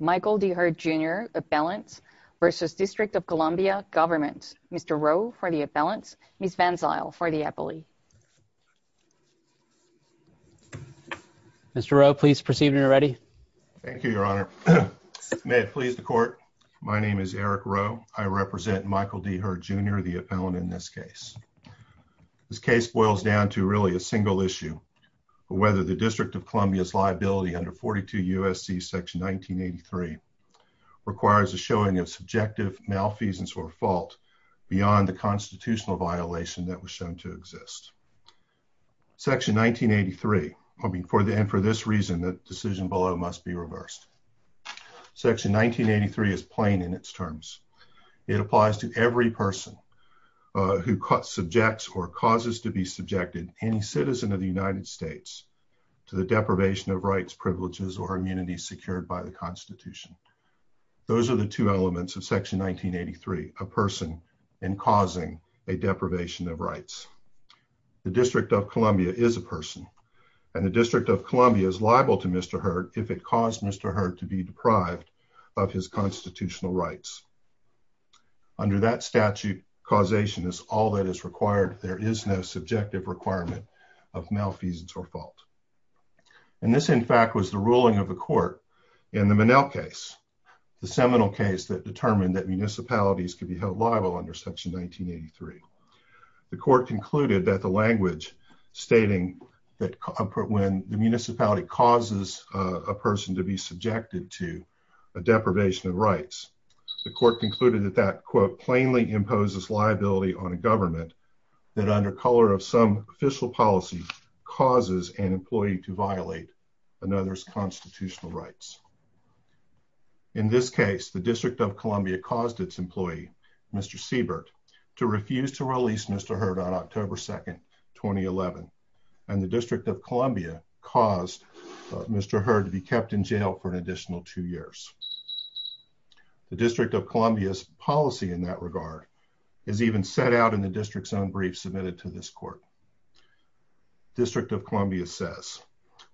Michael D. Hurd, Jr. v. District of Columbia Gov. Mr. Rowe v. Appellant Ms. Van Zyl v. Appellee Mr. Rowe, please proceed when you are ready. Thank you, Your Honor. May it please the Court, my name is Eric Rowe. I represent Michael D. Hurd, Jr., the appellant in this case. This case boils down to really a single issue, whether the District of Columbia's liability under 42 U.S.C. section 1983 requires a showing of subjective malfeasance or fault beyond the constitutional violation that was shown to exist. Section 1983, and for this reason, the decision below must be reversed. Section 1983 is plain in its terms. It applies to every person who subjects or causes to be subjected any citizen of the United States to the deprivation of rights, privileges, or immunity secured by the Constitution. Those are the two elements of section 1983, a person and causing a deprivation of rights. The District of Columbia is a person and the District of Columbia is liable to Mr. Hurd if it caused Mr. Hurd to be deprived of his constitutional rights. Under that statute, causation is all that is required. There is no subjective requirement of malfeasance or fault. And this, in fact, was the ruling of the Court in the Manel case, the seminal case that determined that municipalities could be held liable under section 1983. The Court concluded that the language stating that when the municipality causes a person to be subjected to a deprivation of rights, the Court concluded that that, quote, plainly imposes liability on a government that under color of some official policy causes an employee to violate another's constitutional rights. In this case, the District of Columbia caused its employee, Mr. Siebert, to refuse to release Mr. Hurd on October 2, 2011, and the District of Columbia caused Mr. Hurd to be kept in jail for an additional two years. The District of Columbia's policy in that regard is even set out in the District's own brief submitted to this Court. District of Columbia says,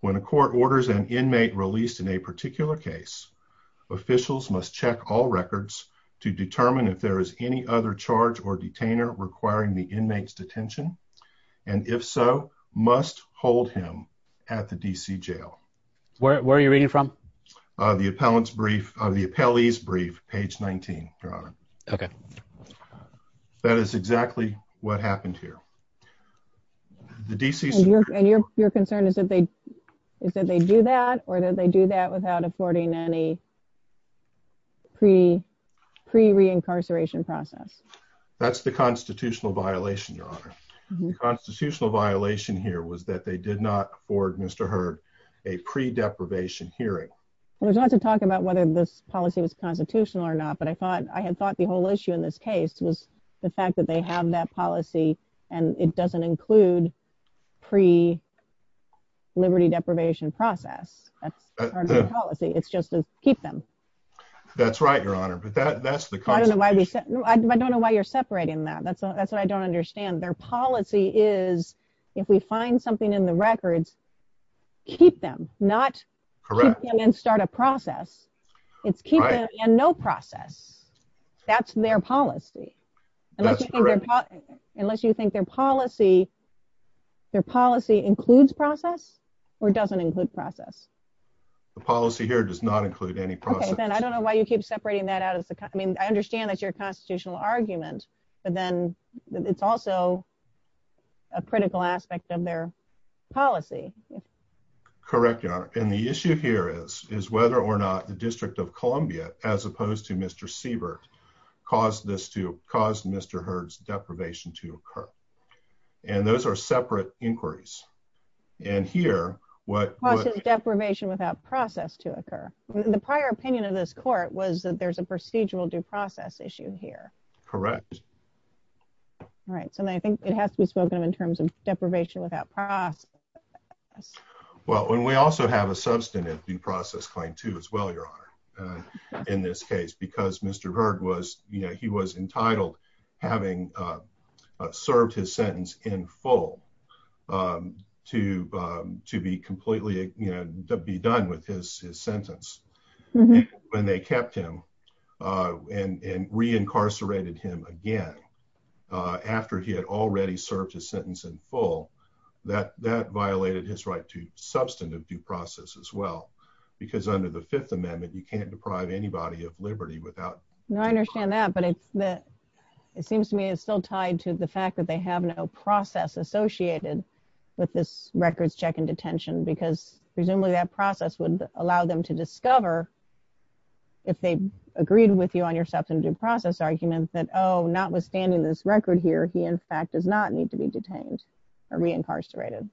when a court orders an inmate released in a particular case, officials must check all records to determine if there is any other charge or detainer requiring the inmate's detention, and if so, must hold him at the D.C. jail. Where are you reading from? The appellee's brief, page 19, Your Honor. Okay. That is exactly what happened here. The D.C. And your concern is that they do that, or that they do that without affording any pre-reincarceration process? That's the constitutional violation, Your Honor. The constitutional violation here was that they did not afford Mr. Hurd a pre-deprivation hearing. There's lots of talk about whether this policy was constitutional or not, but I had thought the whole issue in this case was the fact that they have that policy, and it doesn't include pre-liberty deprivation process as part of their policy. It's just to keep them. That's right, Your Honor. But that's the constitution. I don't know why you're separating that. That's what I don't understand. Their policy is, if we find something in the records, keep them, not keep them and start a process. Correct. It's keep them and no process. That's their policy. That's correct. Unless you think their policy includes process or doesn't include process? The policy here does not include any process. I don't know why you keep separating that out. I understand that's your constitutional argument, but then it's also a critical aspect of their policy. Correct, Your Honor. The issue here is whether or not the District of Columbia, as opposed to Mr. Siebert, caused Mr. Hurd's deprivation to occur. Those are separate inquiries. Here what- Deprivation without process to occur. The prior opinion of this court was that there's a procedural due process issue here. Correct. I think it has to be spoken of in terms of deprivation without process. Well, and we also have a substantive due process claim, too, as well, Your Honor, in this case, because Mr. Hurd was entitled, having served his sentence in full, to be completely done with his sentence. When they kept him and reincarcerated him again, after he had already served his sentence in full, that violated his right to substantive due process, as well, because under the Fifth Amendment, you can't deprive anybody of liberty without- No, I understand that, but it seems to me it's still tied to the fact that they have no process associated with this records check in detention, because presumably that process would allow them to discover, if they agreed with you on your substantive due process argument, that, oh, notwithstanding this record here, he, in fact, does not need to be detained or reincarcerated.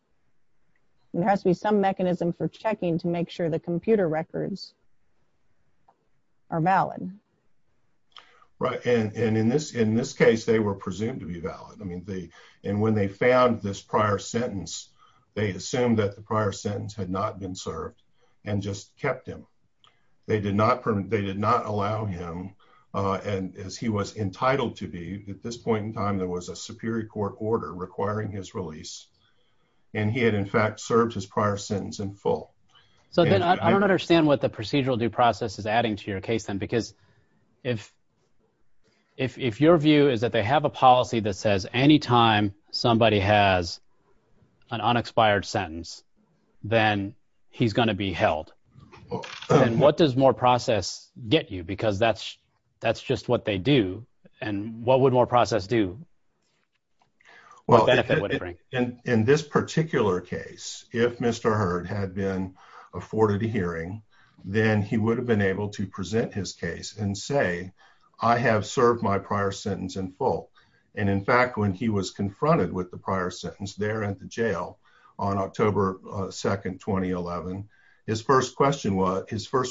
There has to be some mechanism for checking to make sure the computer records are valid. Right, and in this case, they were presumed to be valid. And when they found this prior sentence, they assumed that the prior sentence had not been served and just kept him. They did not allow him, as he was entitled to be, at this point in time, there was a superior court order requiring his release, and he had, in fact, served his prior sentence in full. So, then, I don't understand what the procedural due process is adding to your case, then, because if your view is that they have a policy that says any time somebody has an unexpired prior sentence, then he's going to be held. What does more process get you? Because that's just what they do, and what would more process do? Well, in this particular case, if Mr. Hurd had been afforded a hearing, then he would have been able to present his case and say, I have served my prior sentence in full. And, in fact, when he was confronted with the prior sentence there at the jail on October 2nd, 2011, his first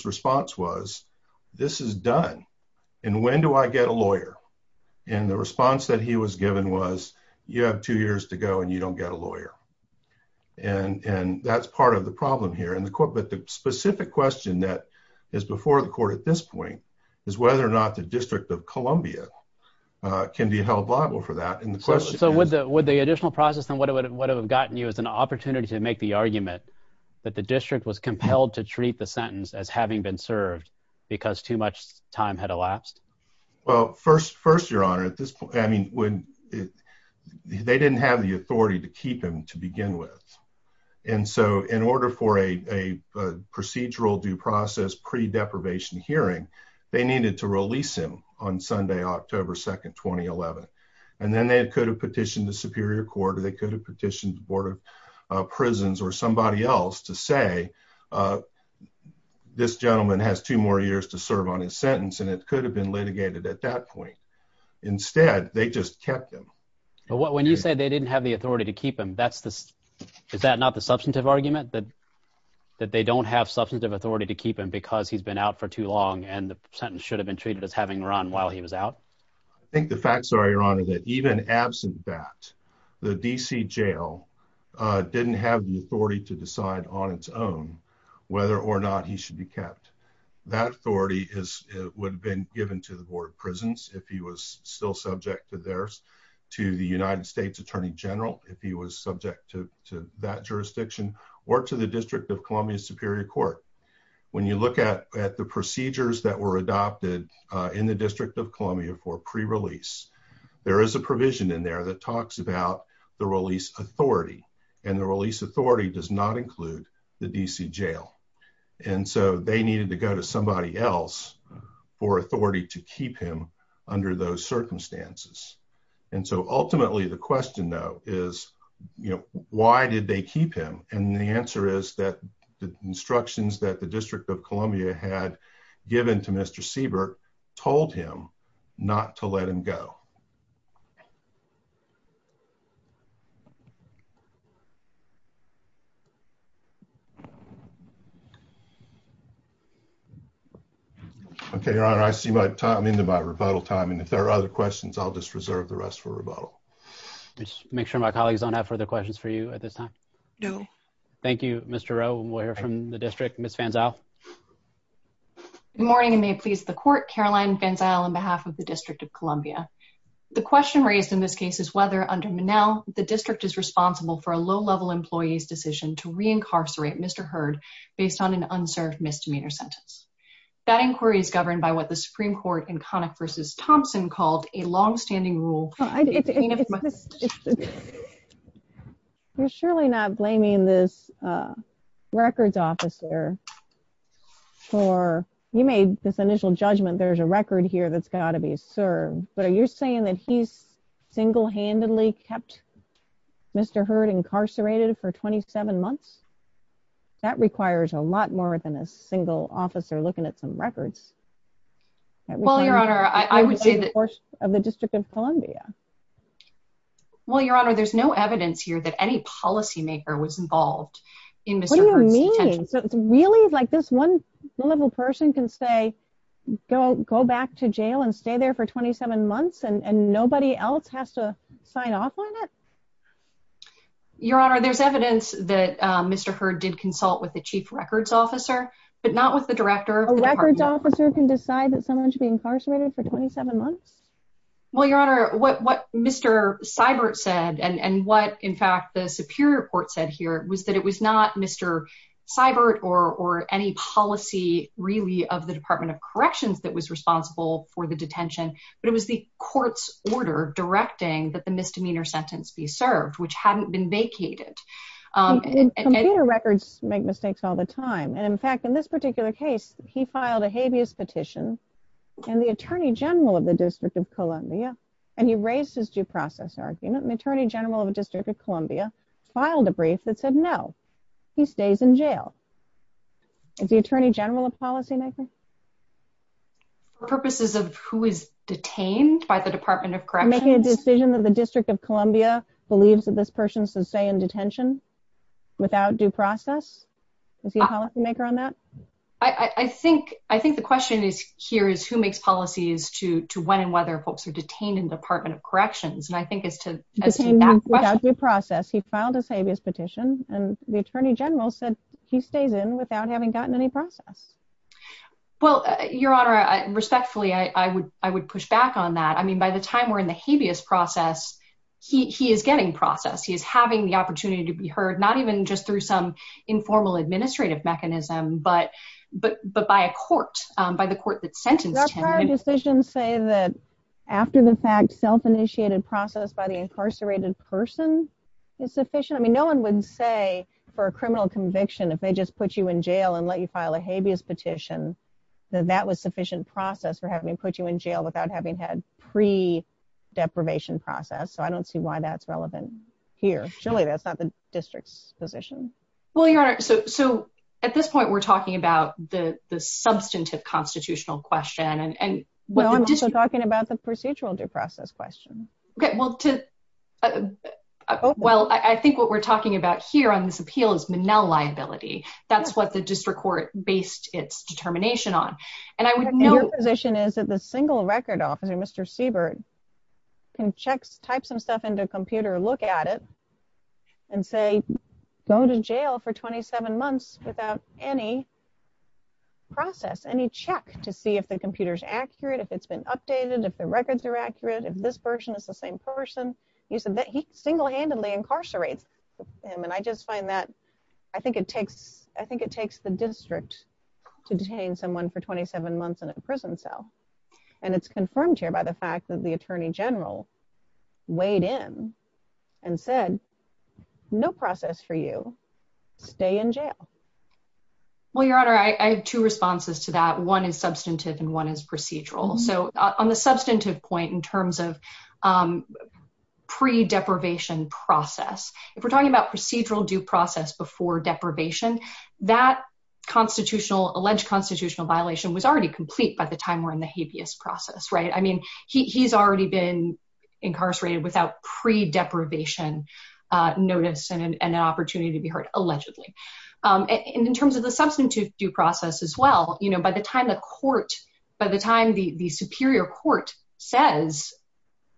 response was, this is done, and when do I get a lawyer? And the response that he was given was, you have two years to go and you don't get a lawyer. And that's part of the problem here. But the specific question that is before the court at this point is whether or not the district has a viable for that. And the question is- So, would the additional process then would have gotten you as an opportunity to make the argument that the district was compelled to treat the sentence as having been served because too much time had elapsed? Well, first, your honor, at this point, I mean, they didn't have the authority to keep him to begin with. And so, in order for a procedural due process pre-deprivation hearing, they needed to release him on Sunday, October 2nd, 2011. And then they could have petitioned the Superior Court or they could have petitioned the Board of Prisons or somebody else to say, this gentleman has two more years to serve on his sentence. And it could have been litigated at that point. Instead, they just kept him. But when you say they didn't have the authority to keep him, that's the- is that not the substantive argument that they don't have substantive authority to keep him because he's been out for too long and the sentence should have been treated as having run while he was out? I think the facts are, your honor, that even absent that, the DC jail didn't have the authority to decide on its own whether or not he should be kept. That authority is- would have been given to the Board of Prisons if he was still subject to theirs, to the United States Attorney General if he was subject to that jurisdiction, or to the District of Columbia Superior Court. When you look at the procedures that were adopted in the District of Columbia for pre-release, there is a provision in there that talks about the release authority, and the release authority does not include the DC jail. And so they needed to go to somebody else for authority to keep him under those circumstances. And so ultimately, the question, though, is, you know, why did they keep him? And the answer is that the instructions that the District of Columbia had given to Mr. Seabrook told him not to let him go. Okay, your honor, I see my time- I'm into my rebuttal time, and if there are other questions, I'll just reserve the rest for rebuttal. Just make sure my colleagues don't have further questions for you at this time. No. Thank you, Mr. Rowe, and we'll hear from the District. Ms. Van Zyl. Good morning, and may it please the Court, Caroline Van Zyl, on behalf of the District of Columbia. The question raised in this case is whether, under Monell, the District is responsible for a low-level employee's decision to re-incarcerate Mr. Heard based on an unserved misdemeanor sentence. That inquiry is governed by what the Supreme Court in Connick v. Thompson called a long-standing rule- It's- You're surely not blaming this records officer for- you made this initial judgment there's a record here that's got to be served, but are you saying that he's single-handedly kept Mr. Heard incarcerated for 27 months? That requires a lot more than a single officer looking at some records. Well, your honor, I would say that- Columbia. Well, your honor, there's no evidence here that any policymaker was involved in Mr. Heard's detention. So it's really like this one low-level person can say, go back to jail and stay there for 27 months and nobody else has to sign off on it? Your honor, there's evidence that Mr. Heard did consult with the chief records officer, but not with the director of the department. A records officer can decide that someone should be incarcerated for 27 months? Well, your honor, what Mr. Seibert said and what, in fact, the Superior Court said here was that it was not Mr. Seibert or any policy really of the Department of Corrections that was responsible for the detention, but it was the court's order directing that the misdemeanor sentence be served, which hadn't been vacated. Computer records make mistakes all the time. And in fact, in this particular case, he filed a habeas petition and the attorney general of the District of Columbia, and he raised his due process argument and the attorney general of the District of Columbia filed a brief that said, no, he stays in jail. Is the attorney general a policymaker? For purposes of who is detained by the Department of Corrections? Making a decision that the District of Columbia believes that this person should stay in detention without due process? Is he a policymaker on that? I think the question here is, who makes policies to when and whether folks are detained in the Department of Corrections? And I think it's to that question. Detained without due process. He filed his habeas petition and the attorney general said he stays in without having gotten any process. Well, your honor, respectfully, I would push back on that. I mean, by the time we're in the habeas process, he is getting process. He is having the opportunity to be heard, not even just through some informal administrative mechanism, but by a court, by the court that sentenced him. Did our prior decisions say that after the fact, self-initiated process by the incarcerated person is sufficient? I mean, no one would say for a criminal conviction, if they just put you in jail and let you file a habeas petition, that that was sufficient process for having put you in jail without having had pre-deprivation process. So I don't see why that's relevant here. Surely that's not the district's position. Well, your honor, so at this point, we're talking about the substantive constitutional question and- No, I'm just talking about the procedural due process question. Okay, well, I think what we're talking about here on this appeal is Manel liability. That's what the district court based its determination on. And I would know- Your position is that the single record officer, Mr. Siebert, can type some stuff into a computer, look at it, and say, go to jail for 27 months without any process, any check to see if the computer's accurate, if it's been updated, if the records are accurate, if this person is the same person. You said that he single-handedly incarcerates him. And I just find that, I think it takes the district to detain someone for 27 months in a prison cell. And it's confirmed here by the fact that the attorney general weighed in and said, no process for you, stay in jail. Well, your honor, I have two responses to that. One is substantive and one is procedural. So on the substantive point in terms of pre-deprivation process, if we're talking about procedural due process before deprivation, that constitutional, alleged constitutional violation was already complete by the time we're in the habeas process, right? I mean, he's already been incarcerated without pre-deprivation notice and an opportunity to be heard, allegedly. And in terms of the substantive due process as well, by the time the court, by the time the superior court says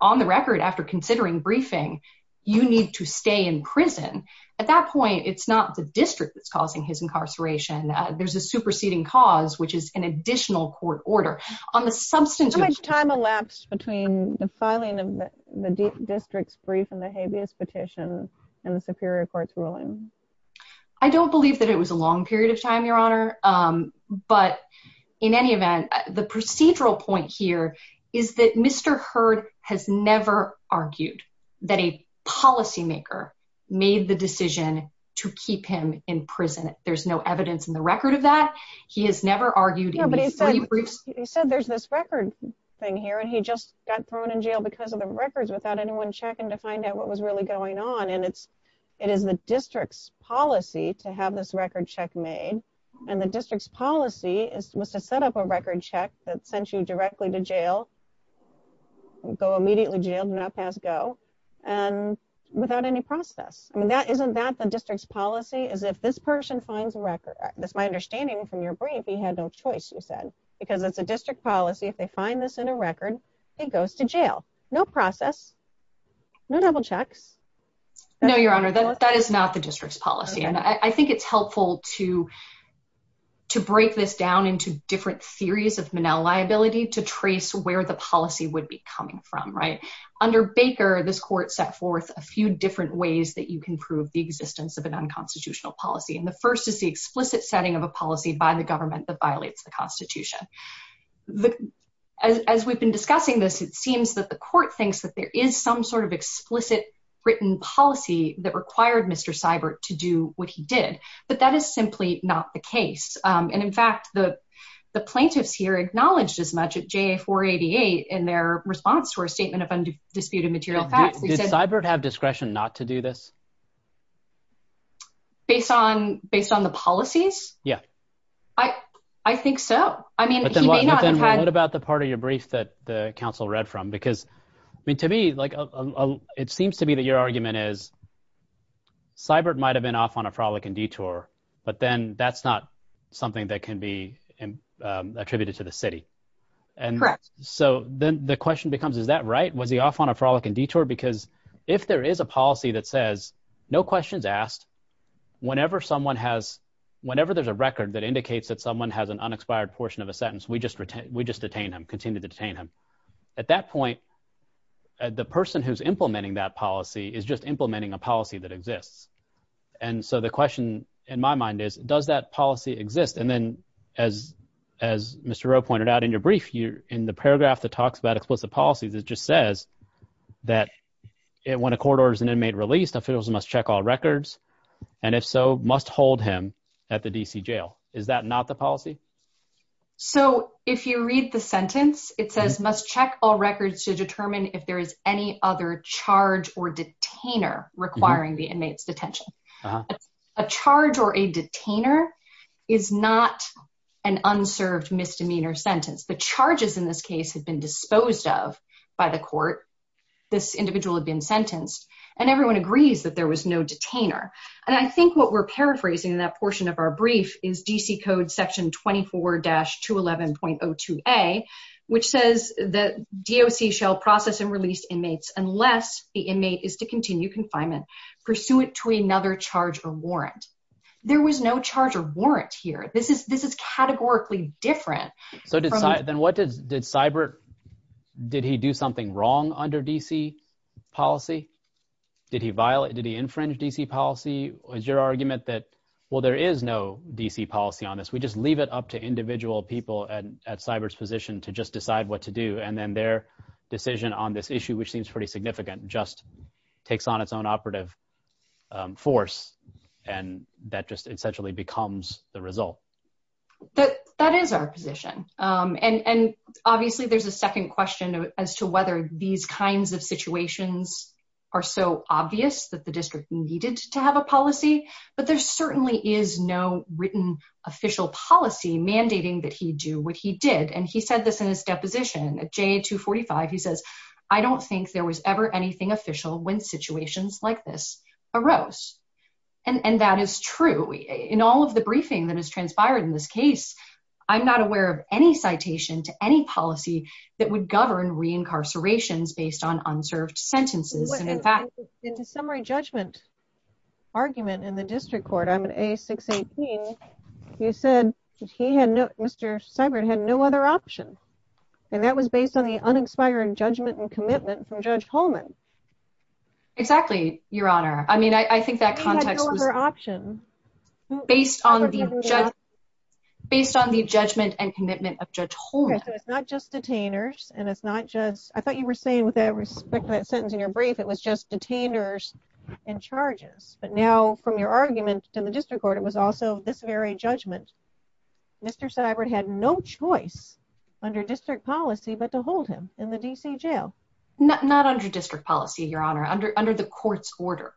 on the record after considering briefing, you need to stay in prison, at that point, it's not the district that's causing his incarceration. There's a superseding cause, which is an additional court order. On the substantive- How much time elapsed between the filing of the district's brief and the habeas petition and the superior court's ruling? I don't believe that it was a long period of time, your honor. But in any event, the procedural point here is that Mr. Hurd has never argued that a policymaker made the decision to keep him in prison. There's no evidence in the record of that. He has never argued- Yeah, but he said there's this record thing here, and he just got thrown in jail because of the records without anyone checking to find out what was really going on. And it is the district's policy to have this record check made. And the district's policy was to set up a record check that sent you directly to jail, go immediately to jail, do not pass go, and without any process. Isn't that the district's policy, is if this person finds a record? That's my understanding from your brief, he had no choice, you said, because it's a district policy. If they find this in a record, he goes to jail. No process, no double checks. No, your honor, that is not the district's policy. And I think it's helpful to break this down into different theories of Monell liability to trace where the policy would be coming from, right? Under Baker, this court set forth a few different ways that you can prove the existence of an unconstitutional policy. And the first is the explicit setting of a policy by the government that violates the Constitution. As we've been discussing this, it seems that the court thinks that there is some sort of explicit written policy that required Mr. Seibert to do what he did. But that is simply not the case. And in fact, the plaintiffs here acknowledged as much at JA-488 in their response to our dispute of material facts. Did Seibert have discretion not to do this? Based on the policies? Yeah. I think so. What about the part of your brief that the counsel read from? Because to me, it seems to me that your argument is, Seibert might have been off on a frolic and detour, but then that's not something that can be attributed to the city. Correct. So then the question becomes, is that right? Was he off on a frolic and detour? Because if there is a policy that says, no questions asked, whenever there's a record that indicates that someone has an unexpired portion of a sentence, we just detain him, continue to detain him. At that point, the person who's implementing that policy is just implementing a policy that exists. And so the question in my mind is, does that policy exist? And then as Mr. Rowe pointed out in your brief, in the paragraph that talks about explicit policies, it just says that when a court orders an inmate released, officials must check all records, and if so, must hold him at the DC jail. Is that not the policy? So if you read the sentence, it says, must check all records to determine if there is any other charge or detainer requiring the inmate's detention. A charge or a detainer is not an unserved misdemeanor sentence. The charges in this case had been disposed of by the court. This individual had been sentenced. And everyone agrees that there was no detainer. And I think what we're paraphrasing in that portion of our brief is DC Code Section 24-211.02a, which says that DOC shall process and release inmates unless the inmate is to continue confinement pursuant to another charge or warrant. There was no charge or warrant here. This is categorically different. So did Cybert, did he do something wrong under DC policy? Did he violate, did he infringe DC policy? Is your argument that, well, there is no DC policy on this. We just leave it up to individual people at Cybert's position to just decide what to do. And then their decision on this issue, which seems pretty significant, just takes on its own operative force. And that just essentially becomes the result. But that is our position. And obviously, there's a second question as to whether these kinds of situations are so obvious that the district needed to have a policy. But there certainly is no written official policy mandating that he do what he did. And he said this in his deposition. At JA245, he says, I don't think there was ever anything official when situations like this arose. And that is true. In all of the briefing that has transpired in this case, I'm not aware of any citation to any policy that would govern reincarcerations based on unserved sentences. And in fact- In the summary judgment argument in the district court, I'm an A618, you said that he had no, Mr. Cybert had no other option. And that was based on the uninspired judgment and commitment from Judge Holman. Exactly, Your Honor. I mean, I think that context was- Based on the judgment and commitment of Judge Holman. So it's not just detainers, and it's not just- I thought you were saying with respect to that sentence in your brief, it was just detainers and charges. But now from your argument in the district court, it was also this very judgment. Mr. Cybert had no choice under district policy but to hold him in the D.C. jail. Not under district policy, Your Honor. Under the court's order.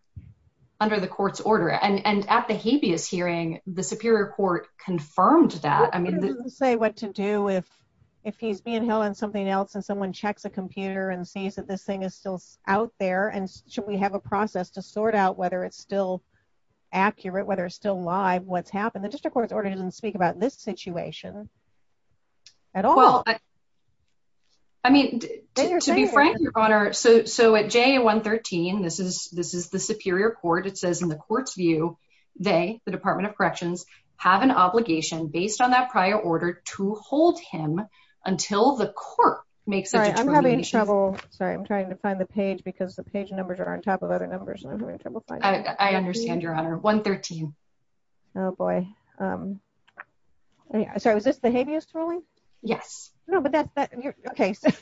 Under the court's order. And at the habeas hearing, the Superior Court confirmed that. It doesn't say what to do if he's being held in something else and someone checks a computer and sees that this thing is still out there, and should we have a process to sort out whether it's still accurate, whether it's still live, what's happened. The district court's order doesn't speak about this situation at all. I mean, to be frank, Your Honor, so at JA113, this is the Superior Court. It says, in the court's view, they, the Department of Corrections, have an obligation, based on that prior order, to hold him until the court makes- Sorry, I'm having trouble. Sorry, I'm trying to find the page because the page numbers are on top of other numbers, and I'm having trouble finding it. I understand, Your Honor. 113. Oh boy. Sorry, was this the habeas ruling? Yes. No, but that's-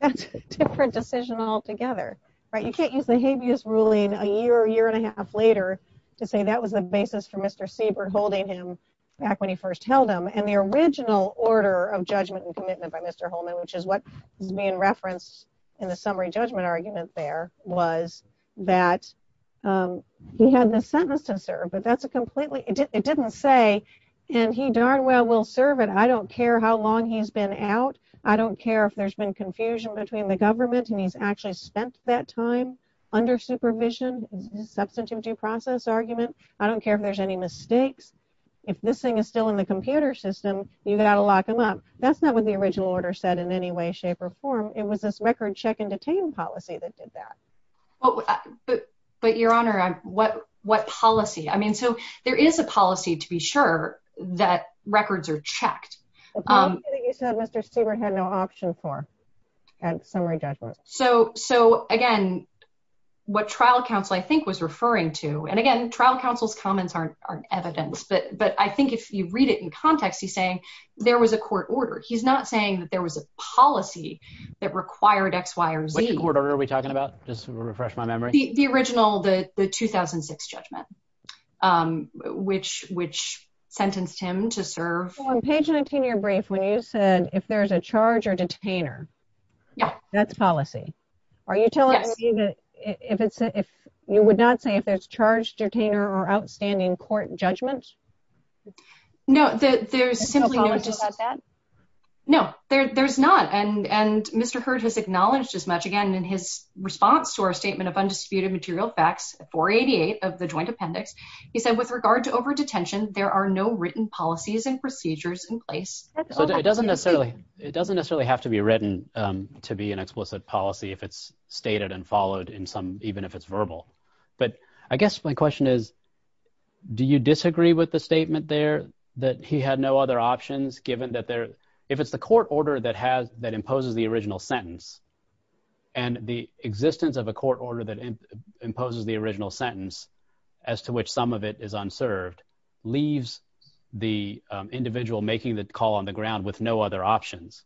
That's a different decision altogether. You can't use the habeas ruling a year, year and a half later, to say that was the basis for Mr. Siebert holding him back when he first held him, and the original order of judgment and commitment by Mr. Holman, which is what is being referenced in the summary judgment argument there, was that he had the sentence to serve, but that's a completely- It didn't say, and he darn well will serve it. I don't care how long he's been out. I don't care if there's been confusion between the government and he's actually spent that time under supervision, the substantive due process argument. I don't care if there's any mistakes. If this thing is still in the computer system, you've got to lock him up. That's not what the original order said in any way, shape, or form. It was this record check and detain policy that did that. But Your Honor, what policy? I mean, so there is a policy to be sure that records are checked. The policy that you said Mr. Siebert had no option for at summary judgment. So again, what trial counsel, I think, was referring to, and again, trial counsel's comments aren't evidence, but I think if you read it in context, he's saying there was a court order. He's not saying that there was a policy that required X, Y, or Z. What court order are we talking about? Just to refresh my memory. The original, the 2006 judgment, which sentenced him to serve. On page 19 of your brief, when you said, if there's a charge or detainer, that's policy. Are you telling me that if it's, if you would not say if there's charge, detainer, or outstanding court judgment? No, there's simply no, no, there's not. And, and Mr. Hurd has acknowledged as much again, in his response to our statement of undisputed material facts, 488 of the joint appendix, he said, with regard to over-detention, there are no written policies and procedures in place. It doesn't necessarily, it doesn't necessarily have to be written to be an explicit policy if it's stated and followed in some, even if it's verbal. But I guess my question is, do you disagree with the statement there that he had no other options given that there, if it's the court order that has, that imposes the original sentence and the existence of a court order that imposes the original sentence as to which sum of it is unserved, leaves the individual making the call on the ground with no other options,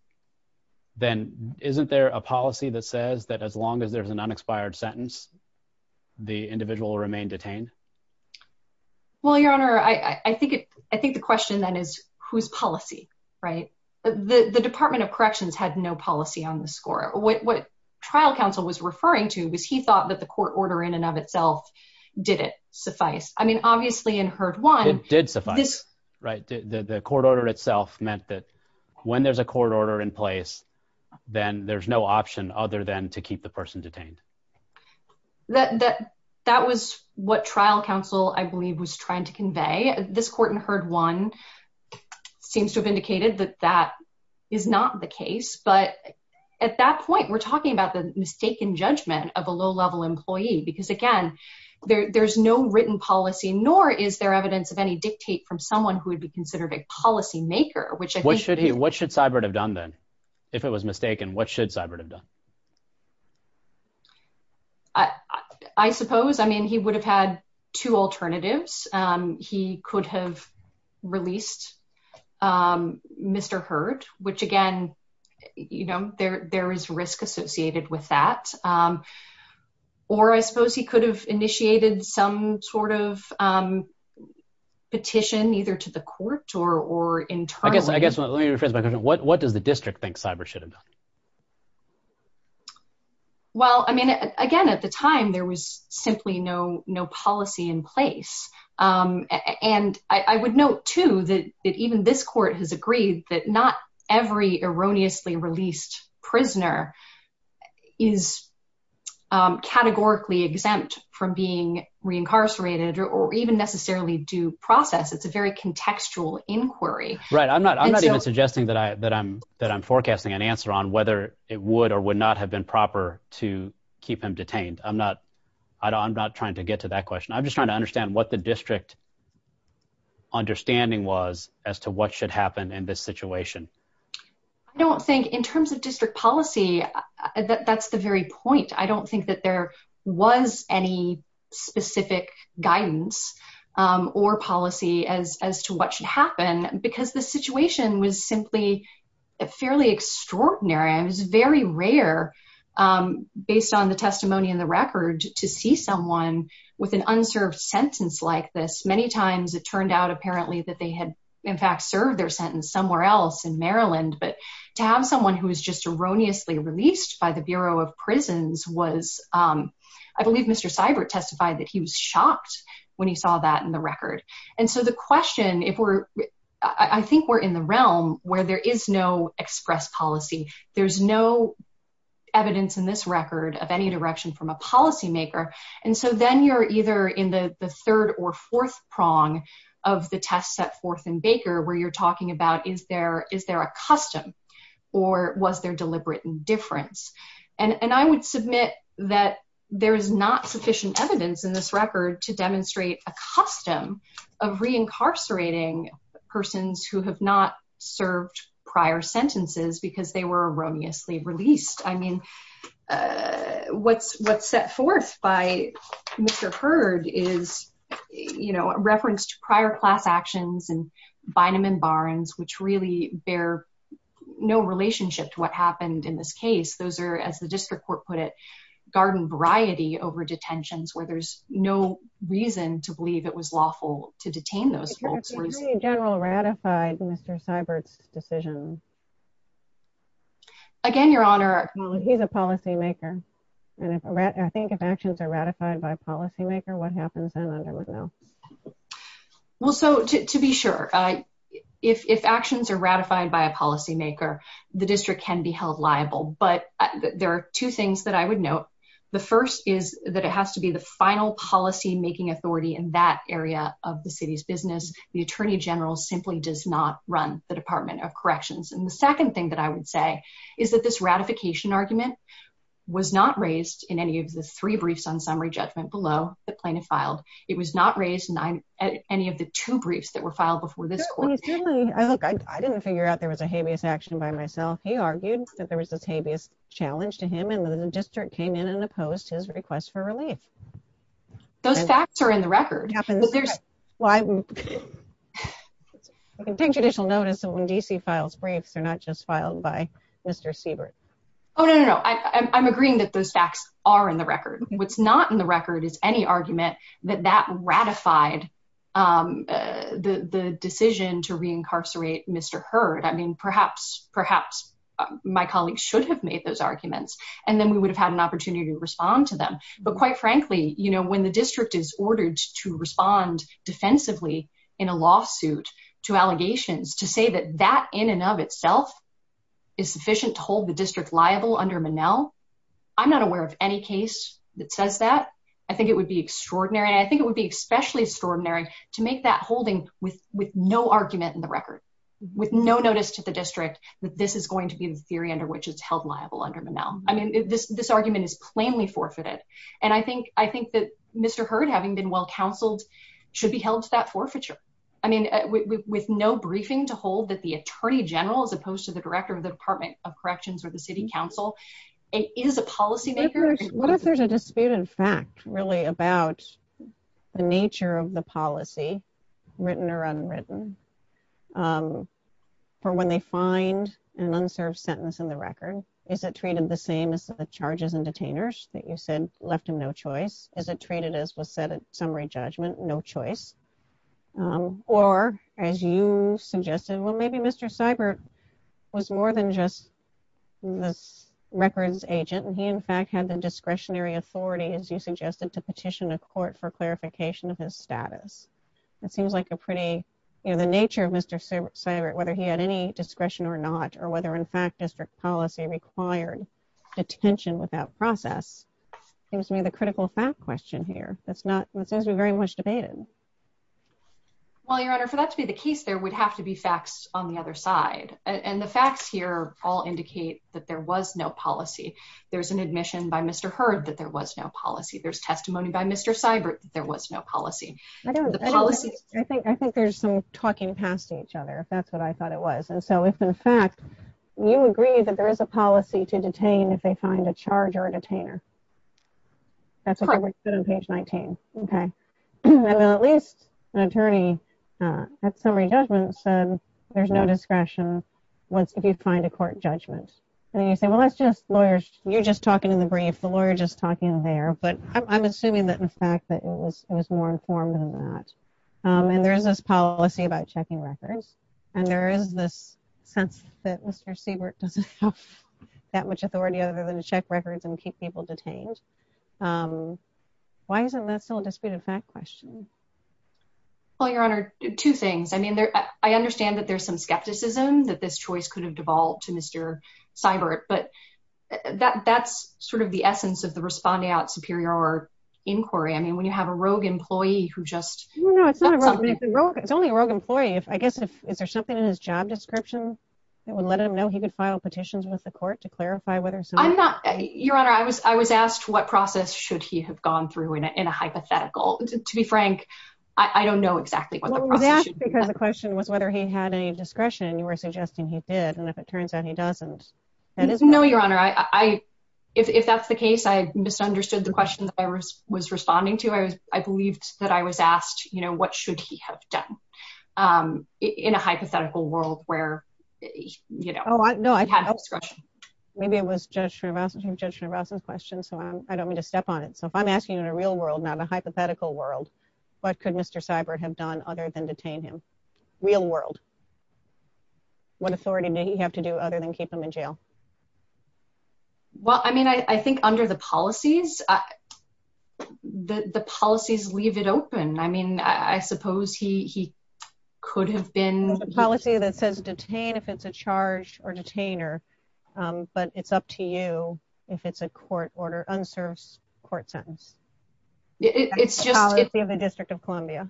then isn't there a policy that says that as long as there's an unexpired sentence, the individual will remain detained? Well, Your Honor, I think it, I think the question then is whose policy, right? The Department of Corrections had no policy on the score. What, what trial counsel was referring to was he thought that the court order in and of itself did it suffice. I mean, obviously in heard one. It did suffice, right? The court order itself meant that when there's a court order in place, then there's no option other than to keep the person detained. That, that, that was what trial counsel, I believe was trying to convey this court and heard one seems to have indicated that that is not the case. But at that point, we're talking about the mistaken judgment of a low level employee, because again, there, there's no written policy, nor is there evidence of any dictate from someone who would be considered a policy maker, which I think should he, what should cyber have done then if it was mistaken? What should cyber have done? I, I suppose, I mean, he would have had two alternatives. He could have released Mr. Heard, which again, you know, there, there is risk associated with that. Or I suppose he could have initiated some sort of petition either to the court or, or in turn. I guess, let me rephrase my question. What, what does the district think cyber should have done? Well, I mean, again, at the time there was simply no, no policy in place. And I would note too, that even this court has agreed that not every erroneously released prisoner is categorically exempt from being reincarcerated or even necessarily due process. It's a very contextual inquiry. Right. I'm not, I'm not even suggesting that I, that I'm, that I'm forecasting an answer on whether it would or would not have been proper to keep him detained. I'm not, I don't, I'm not trying to get to that question. I'm just trying to understand what the district understanding was as to what should happen in this situation. I don't think in terms of district policy, that that's the very point. I don't think that there was any specific guidance or policy as, as to what should happen because the situation was simply a fairly extraordinary. It was very rare based on the testimony in the record to see someone with an unserved sentence like this. Many times it turned out apparently that they had in fact served their sentence somewhere else in Maryland. But to have someone who was just erroneously released by the Bureau of Prisons was, I believe Mr. Seibert testified that he was shocked when he saw that in the record. And so the question, if we're, I think we're in the realm where there is no express policy. There's no evidence in this record of any direction from a policymaker. And so then you're either in the third or fourth prong of the test set forth in Baker where you're talking about, is there, is there a custom or was there deliberate indifference? And, and I would submit that there is not sufficient evidence in this record to demonstrate a custom of reincarcerating persons who have not served prior sentences because they were erroneously released. I mean, what's, what's set forth by Mr. Hurd is, you know, reference to prior class actions and Bynum and Barnes, which really bear no relationship to what happened in this case. Those are, as the district court put it, garden variety over detentions where there's no reason to believe it was lawful to detain those folks. Was the Attorney General ratified Mr. Seibert's decision? Again, Your Honor. He's a policymaker. And I think if actions are ratified by a policymaker, what happens then under McNeil? Well, so to be sure, if, if actions are ratified by a policymaker, the district can be held liable. But there are two things that I would note. The first is that it has to be the final policy making authority in that area of the city's business. The Attorney General simply does not run the Department of Corrections. And the second thing that I would say is that this ratification argument was not raised in any of the three briefs on summary judgment below the plaintiff filed. It was not raised in any of the two briefs that were filed before this court. Look, I didn't figure out there was a habeas action by myself. He argued that there was this habeas challenge to him, and the district came in and opposed his request for relief. Those facts are in the record. But there's... I can take judicial notice that when D.C. files briefs, they're not just filed by Mr. Seibert. Oh, no, no, no. I'm agreeing that those facts are in the record. What's not in the record is any argument that that ratified the decision to reincarcerate Mr. Heard. I mean, perhaps my colleagues should have made those arguments, and then we would have had an opportunity to respond to them. But quite frankly, you know, when the district is ordered to respond defensively in a lawsuit to allegations to say that that in and of itself is sufficient to hold the district liable under Monell, I'm not aware of any case that says that. I think it would be extraordinary, and I think it would be especially extraordinary to make that holding with no argument in the record, with no notice to the district that this is going to be the theory under which it's held liable under Monell. I mean, this argument is plainly forfeited. And I think that Mr. Heard, having been well counseled, should be held to that forfeiture. I mean, with no briefing to hold that the Attorney General, as opposed to the Director of the Department of Corrections or the City Council, is a policymaker. What if there's a disputed fact, really, about the nature of the policy, written or unwritten, for when they find an unserved sentence in the record? Is it treated the same as the charges and detainers that you said left him no choice? Is it treated as was said at summary judgment, no choice? Or, as you suggested, well, maybe Mr. Seibert was more than just the records agent, and he, in fact, had the discretionary authority, as you suggested, to petition a court for clarification of his status. It seems like a pretty, you know, the nature of Mr. Seibert, whether he had any discretion or not, or whether, in fact, district policy required detention without process, seems to me the critical fact question here. It seems to be very much debated. Well, Your Honor, for that to be the case, there would have to be facts on the other side. And the facts here all indicate that there was no policy. There's an admission by Mr. Hurd that there was no policy. There's testimony by Mr. Seibert that there was no policy. I think there's some talking past each other, if that's what I thought it was. And so, if, in fact, you agree that there is a policy to detain if they find a charge or a detainer. That's what they said on page 19. Okay. I mean, at least an attorney at summary judgment said there's no discretion if you find a court judgment. And then you say, well, that's just lawyers. You're just talking in the brief. The lawyer's just talking there. But I'm assuming that, in fact, that it was more informed than that. And there is this policy about checking records, and there is this sense that Mr. Seibert doesn't have that much authority other than to check records and keep people detained. Um, why isn't that still a disputed fact question? Well, Your Honor, two things. I mean, I understand that there's some skepticism that this choice could have devolved to Mr. Seibert. But that's sort of the essence of the respondeat superior inquiry. I mean, when you have a rogue employee who just- No, no, it's not a rogue. It's only a rogue employee. I guess, is there something in his job description that would let him know he could file petitions with the court to clarify whether- Your Honor, I was asked what process should he have gone through in a hypothetical. To be frank, I don't know exactly what the process should be. Well, I was asked because the question was whether he had any discretion. You were suggesting he did. And if it turns out he doesn't, that is- No, Your Honor, if that's the case, I misunderstood the question that I was responding to. I believed that I was asked, you know, what should he have done in a hypothetical world where, you know, he had discretion. Maybe it was Judge Narvasan's question, so I don't mean to step on it. So if I'm asking in a real world, not a hypothetical world, what could Mr. Seibert have done other than detain him? Real world. What authority did he have to do other than keep him in jail? Well, I mean, I think under the policies, the policies leave it open. I mean, I suppose he could have been- Detain if it's a charge or detainer. But it's up to you if it's a court order, unserved court sentence. It's just- The District of Columbia.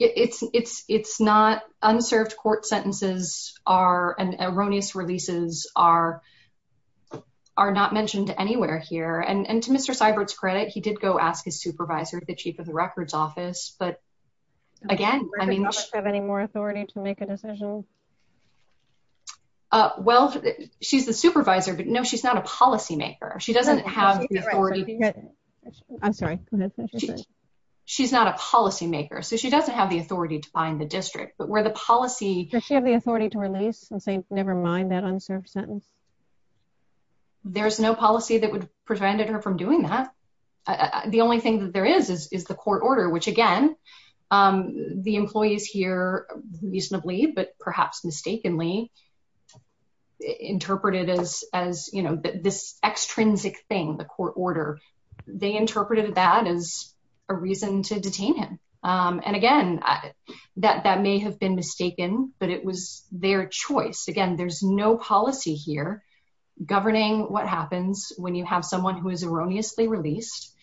It's not. Unserved court sentences and erroneous releases are not mentioned anywhere here. And to Mr. Seibert's credit, he did go ask his supervisor, the chief of the records office. But again, I mean- Does she have any more authority to make a decision? Well, she's the supervisor, but no, she's not a policymaker. She doesn't have the authority. I'm sorry. She's not a policymaker, so she doesn't have the authority to find the district. But where the policy- Does she have the authority to release and say, never mind that unserved sentence? There's no policy that would prevent her from doing that. The only thing that there is, is the court order, which again, the employees here reasonably, but perhaps mistakenly, interpreted as this extrinsic thing, the court order. They interpreted that as a reason to detain him. And again, that may have been mistaken, but it was their choice. Again, there's no policy here governing what happens when you have someone who is erroneously released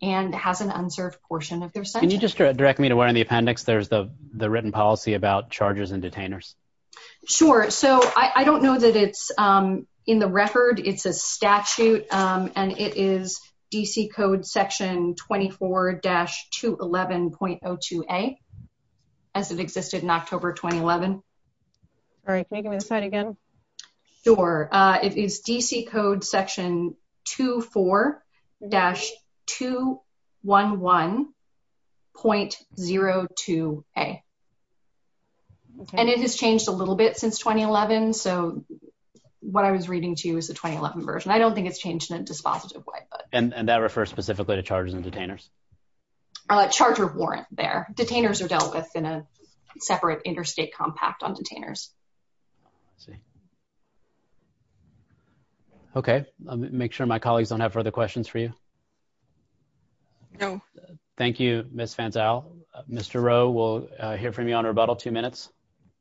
and has an unserved portion of their sentence. Can you just direct me to where in the appendix, there's the written policy about charges and detainers? Sure. So I don't know that it's in the record. It's a statute and it is DC code section 24-211.02a, as it existed in October, 2011. All right. Can you give me the slide again? Sure. It is DC code section 24-211.02a. And it has changed a little bit since 2011. So what I was reading to you is the 2011 version. I don't think it's changed in a dispositive way. And that refers specifically to charges and detainers? Charger warrant there. Detainers are dealt with in a separate interstate compact on detainers. Let's see. Okay. Make sure my colleagues don't have further questions for you. No. Thank you, Ms. Fanzel. Mr. Rowe, we'll hear from you on rebuttal, two minutes.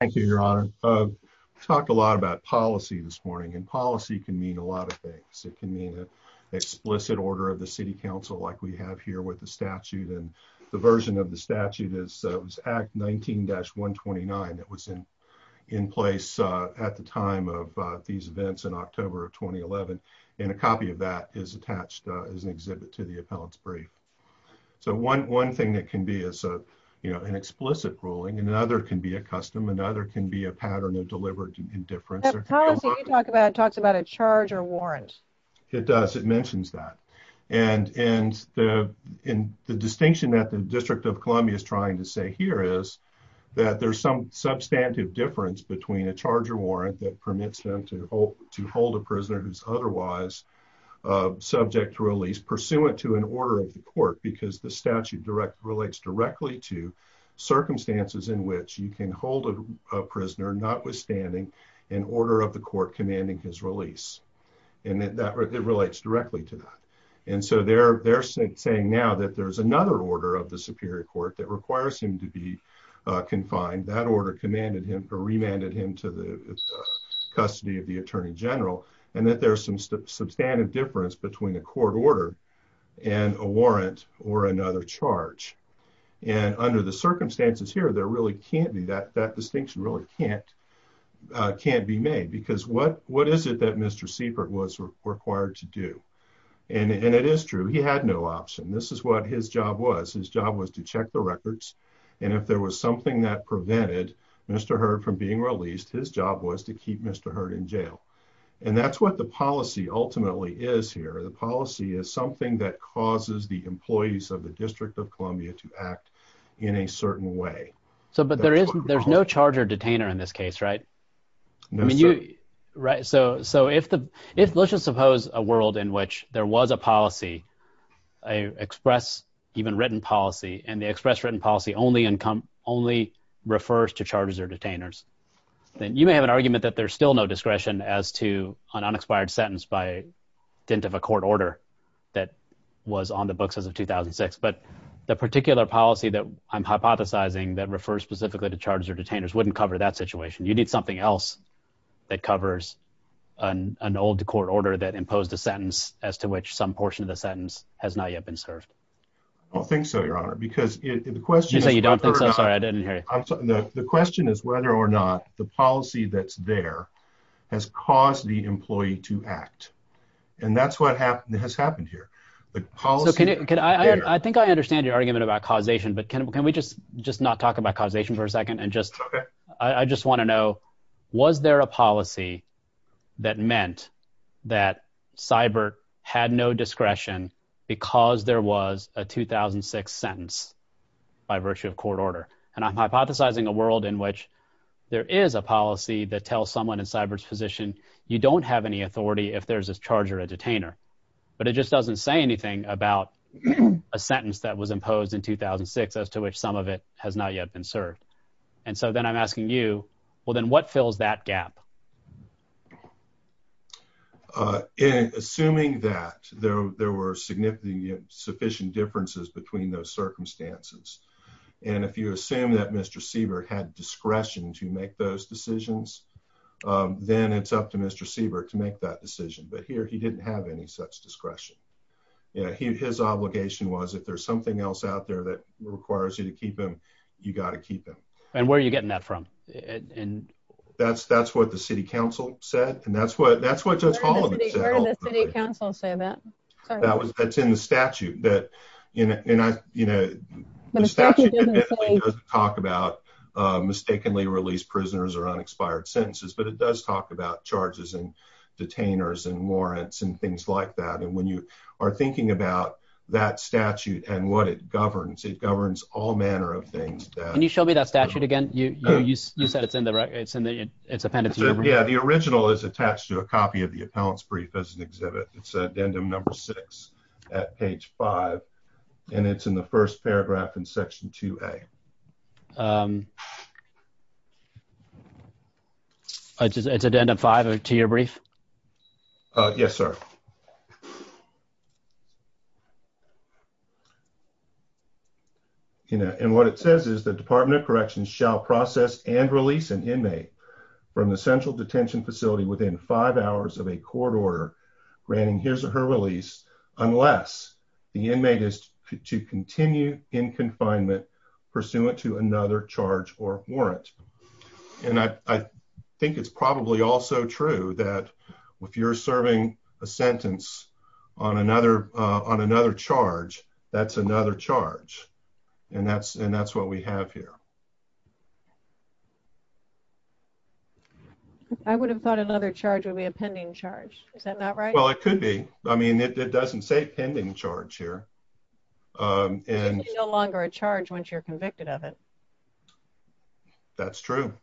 Thank you, Your Honor. We've talked a lot about policy this morning and policy can mean a lot of things. It can mean an explicit order of the city council, like we have here with the statute. And the version of the statute is Act 19-129. It was in place at the time of these events in October of 2011. And a copy of that is attached as an exhibit to the appellant's brief. So one thing that can be is an explicit ruling. And another can be a custom. Another can be a pattern of deliberate indifference. That policy you talk about talks about a charge or warrant. It does. It mentions that. And the distinction that the District of Columbia is trying to say here is that there's some substantive difference between a charge or warrant that permits them to hold a prisoner who's otherwise subject to release, pursuant to an order of the court. Because the statute relates directly to circumstances in which you can hold a prisoner, notwithstanding an order of the court commanding his release. And it relates directly to that. And so they're saying now that there's another order of the Superior Court that requires him to be confined. That order commanded him or remanded him to the custody of the Attorney General. And that there's some substantive difference between a court order and a warrant or another charge. And under the circumstances here, there really can't be that. That distinction really can't be made. Because what is it that Mr. Siefert was required to do? And it is true. He had no option. This is what his job was. His job was to check the records. And if there was something that prevented Mr. Hurd from being released, his job was to keep Mr. Hurd in jail. And that's what the policy ultimately is here. The policy is something that causes the employees of the District of Columbia to act in a certain way. So, but there is, there's no charge or detainer in this case, right? I mean, you, right. So, so if the, if let's just suppose a world in which there was a policy, a express, even written policy, and the express written policy only income, only refers to charges or detainers, then you may have an argument that there's still no discretion as to an unexpired sentence by dint of a court order that was on the books as of 2006. But the particular policy that I'm hypothesizing that refers specifically to charges or detainers wouldn't cover that situation. You need something else that covers an old court order that imposed a sentence as to which some portion of the sentence has not yet been served. I don't think so, Your Honor, because the question is- You say you don't think so? Sorry, I didn't hear you. The question is whether or not the policy that's there has caused the employee to act. And that's what has happened here. The policy- So can I, I think I understand your argument about causation, but can we just, just not talk about causation for a second? And just, I just want to know, was there a policy that meant that Seibert had no discretion because there was a 2006 sentence by virtue of court order? And I'm hypothesizing a world in which there is a policy that tells someone in Seibert's position, you don't have any authority if there's a charge or a detainer, but it just doesn't say anything about a sentence that was imposed in 2006 as to which some of it has not yet been served. And so then I'm asking you, well, then what fills that gap? Assuming that there were significant, sufficient differences between those circumstances. And if you assume that Mr. Seibert had discretion to make those decisions, then it's up to Mr. Seibert to make that decision. But here he didn't have any such discretion. His obligation was if there's something else out there that requires you to keep him, you got to keep him. And where are you getting that from? And that's what the city council said. And that's what Judge Holloman said. Where did the city council say that? That's in the statute. The statute doesn't talk about mistakenly released prisoners or unexpired sentences, but it does talk about charges and detainers and warrants and things like that. And when you are thinking about that statute and what it governs, it governs all manner of things. Can you show me that statute again? You said it's in the record. It's in the appendix. Yeah, the original is attached to a copy of the appellant's brief as an exhibit. It's addendum number six at page five. And it's in the first paragraph in section 2A. It's addendum five to your brief? Yes, sir. And what it says is the department of corrections shall process and release an inmate from the central detention facility within five hours of a court order granting his or her release unless the inmate is to continue in confinement pursuant to another charge or warrant. And I think it's probably also true that if you're serving a sentence on another charge, that's another charge. And that's what we have here. I would have thought another charge would be a pending charge. Is that not right? Well, it could be. I mean, it doesn't say pending charge here. It's no longer a charge once you're convicted of it. That's true.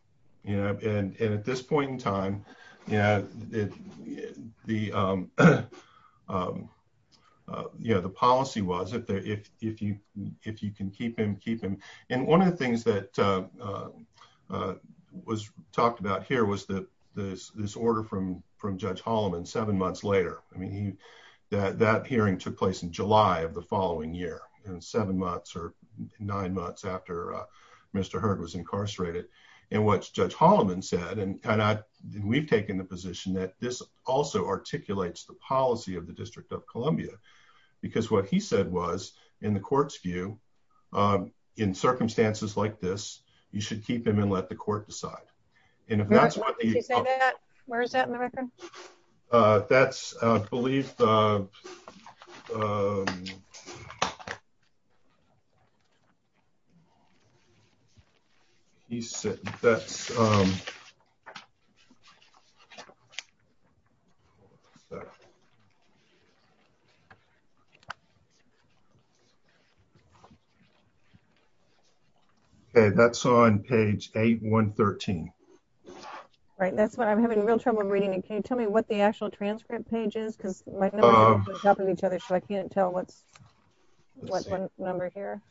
You know, and at this point in time, you know, the policy was if you can keep him, keep him. And one of the things that was talked about here was this order from Judge Holloman seven months later. I mean, that hearing took place in July of the following year, in seven months or nine months after Mr. Hurd was incarcerated. And what Judge Holloman said, and we've taken the position that this also articulates the policy of the District of Columbia because what he said was in the court's view, um, in circumstances like this, you should keep him and let the court decide. And if that's what you say that, where is that in the record? Uh, that's, uh, I believe, um, he said, that's, um, okay, that's on page eight, one 13, right? That's what I'm having real trouble reading. And can you tell me what the actual transcript page is? Cause my number is on top of each other. So I can't tell what's what number here.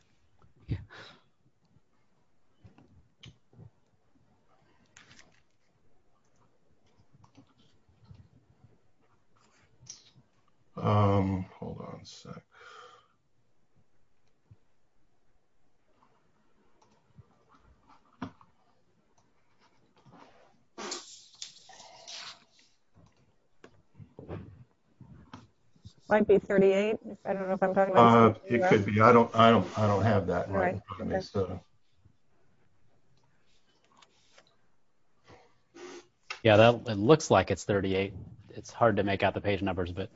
Um, hold on a sec. Yeah, it looks like it's 38. It's hard to make out the page numbers, but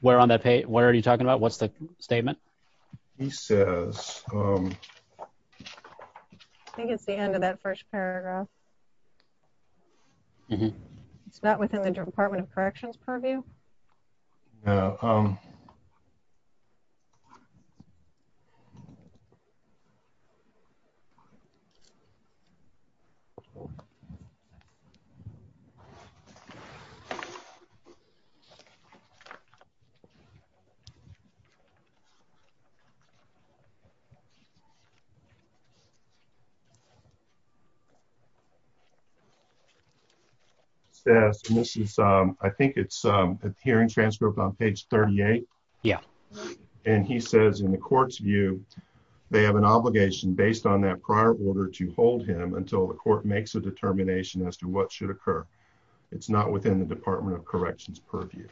where on that page, what are you talking about? What's the statement? He says, um, I think it's the end of that first paragraph. It's not within the department of corrections purview. Yeah. Yeah. Says, and this is, um, I think it's, um, hearing transcript on page 38. Yeah. And he says in the court's view, they have an obligation based on that prior order to hold him until the court makes a determination as to what should occur. It's not within the department of corrections purview.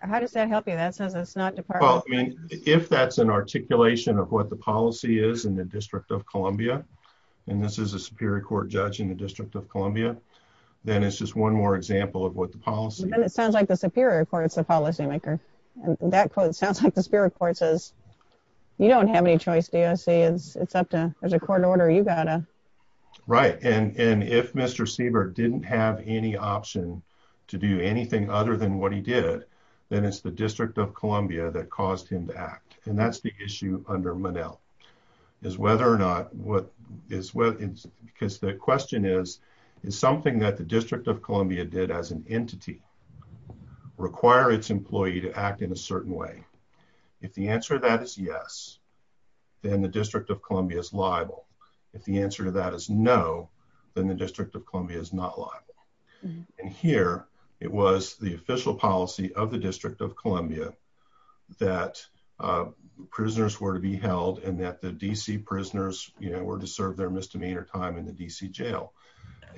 How does that help you? That says it's not department. If that's an articulation of what the policy is in the district of Columbia, and this is a superior court judge in the district of Columbia, then it's just one more example of what the policy. And it sounds like the superior court, it's the policy maker. And that quote sounds like the spirit court says, you don't have any choice. Do you see it's up to, there's a court order. You got to. Right. to do anything other than what he did, then it's the district of Columbia that caused him to act. And that's the issue under Monell is whether or not what is, because the question is, is something that the district of Columbia did as an entity require its employee to act in a certain way. If the answer to that is yes, then the district of Columbia is liable. If the answer to that is no, then the district of Columbia is not liable. And here it was the official policy of the district of Columbia that prisoners were to be held and that the DC prisoners, you know, were to serve their misdemeanor time in the DC jail.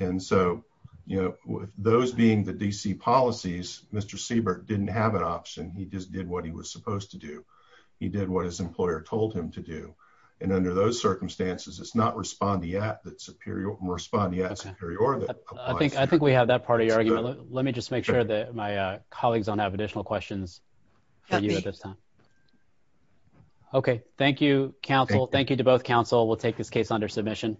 And so, you know, with those being the DC policies, Mr. Siebert didn't have an option. He just did what he was supposed to do. He did what his employer told him to do. And under those circumstances, it's not respond yet that superior and respond yet superior that applies. I think we have that part of your argument. Let me just make sure that my colleagues don't have additional questions for you at this time. Okay. Thank you, counsel. Thank you to both counsel. We'll take this case under submission.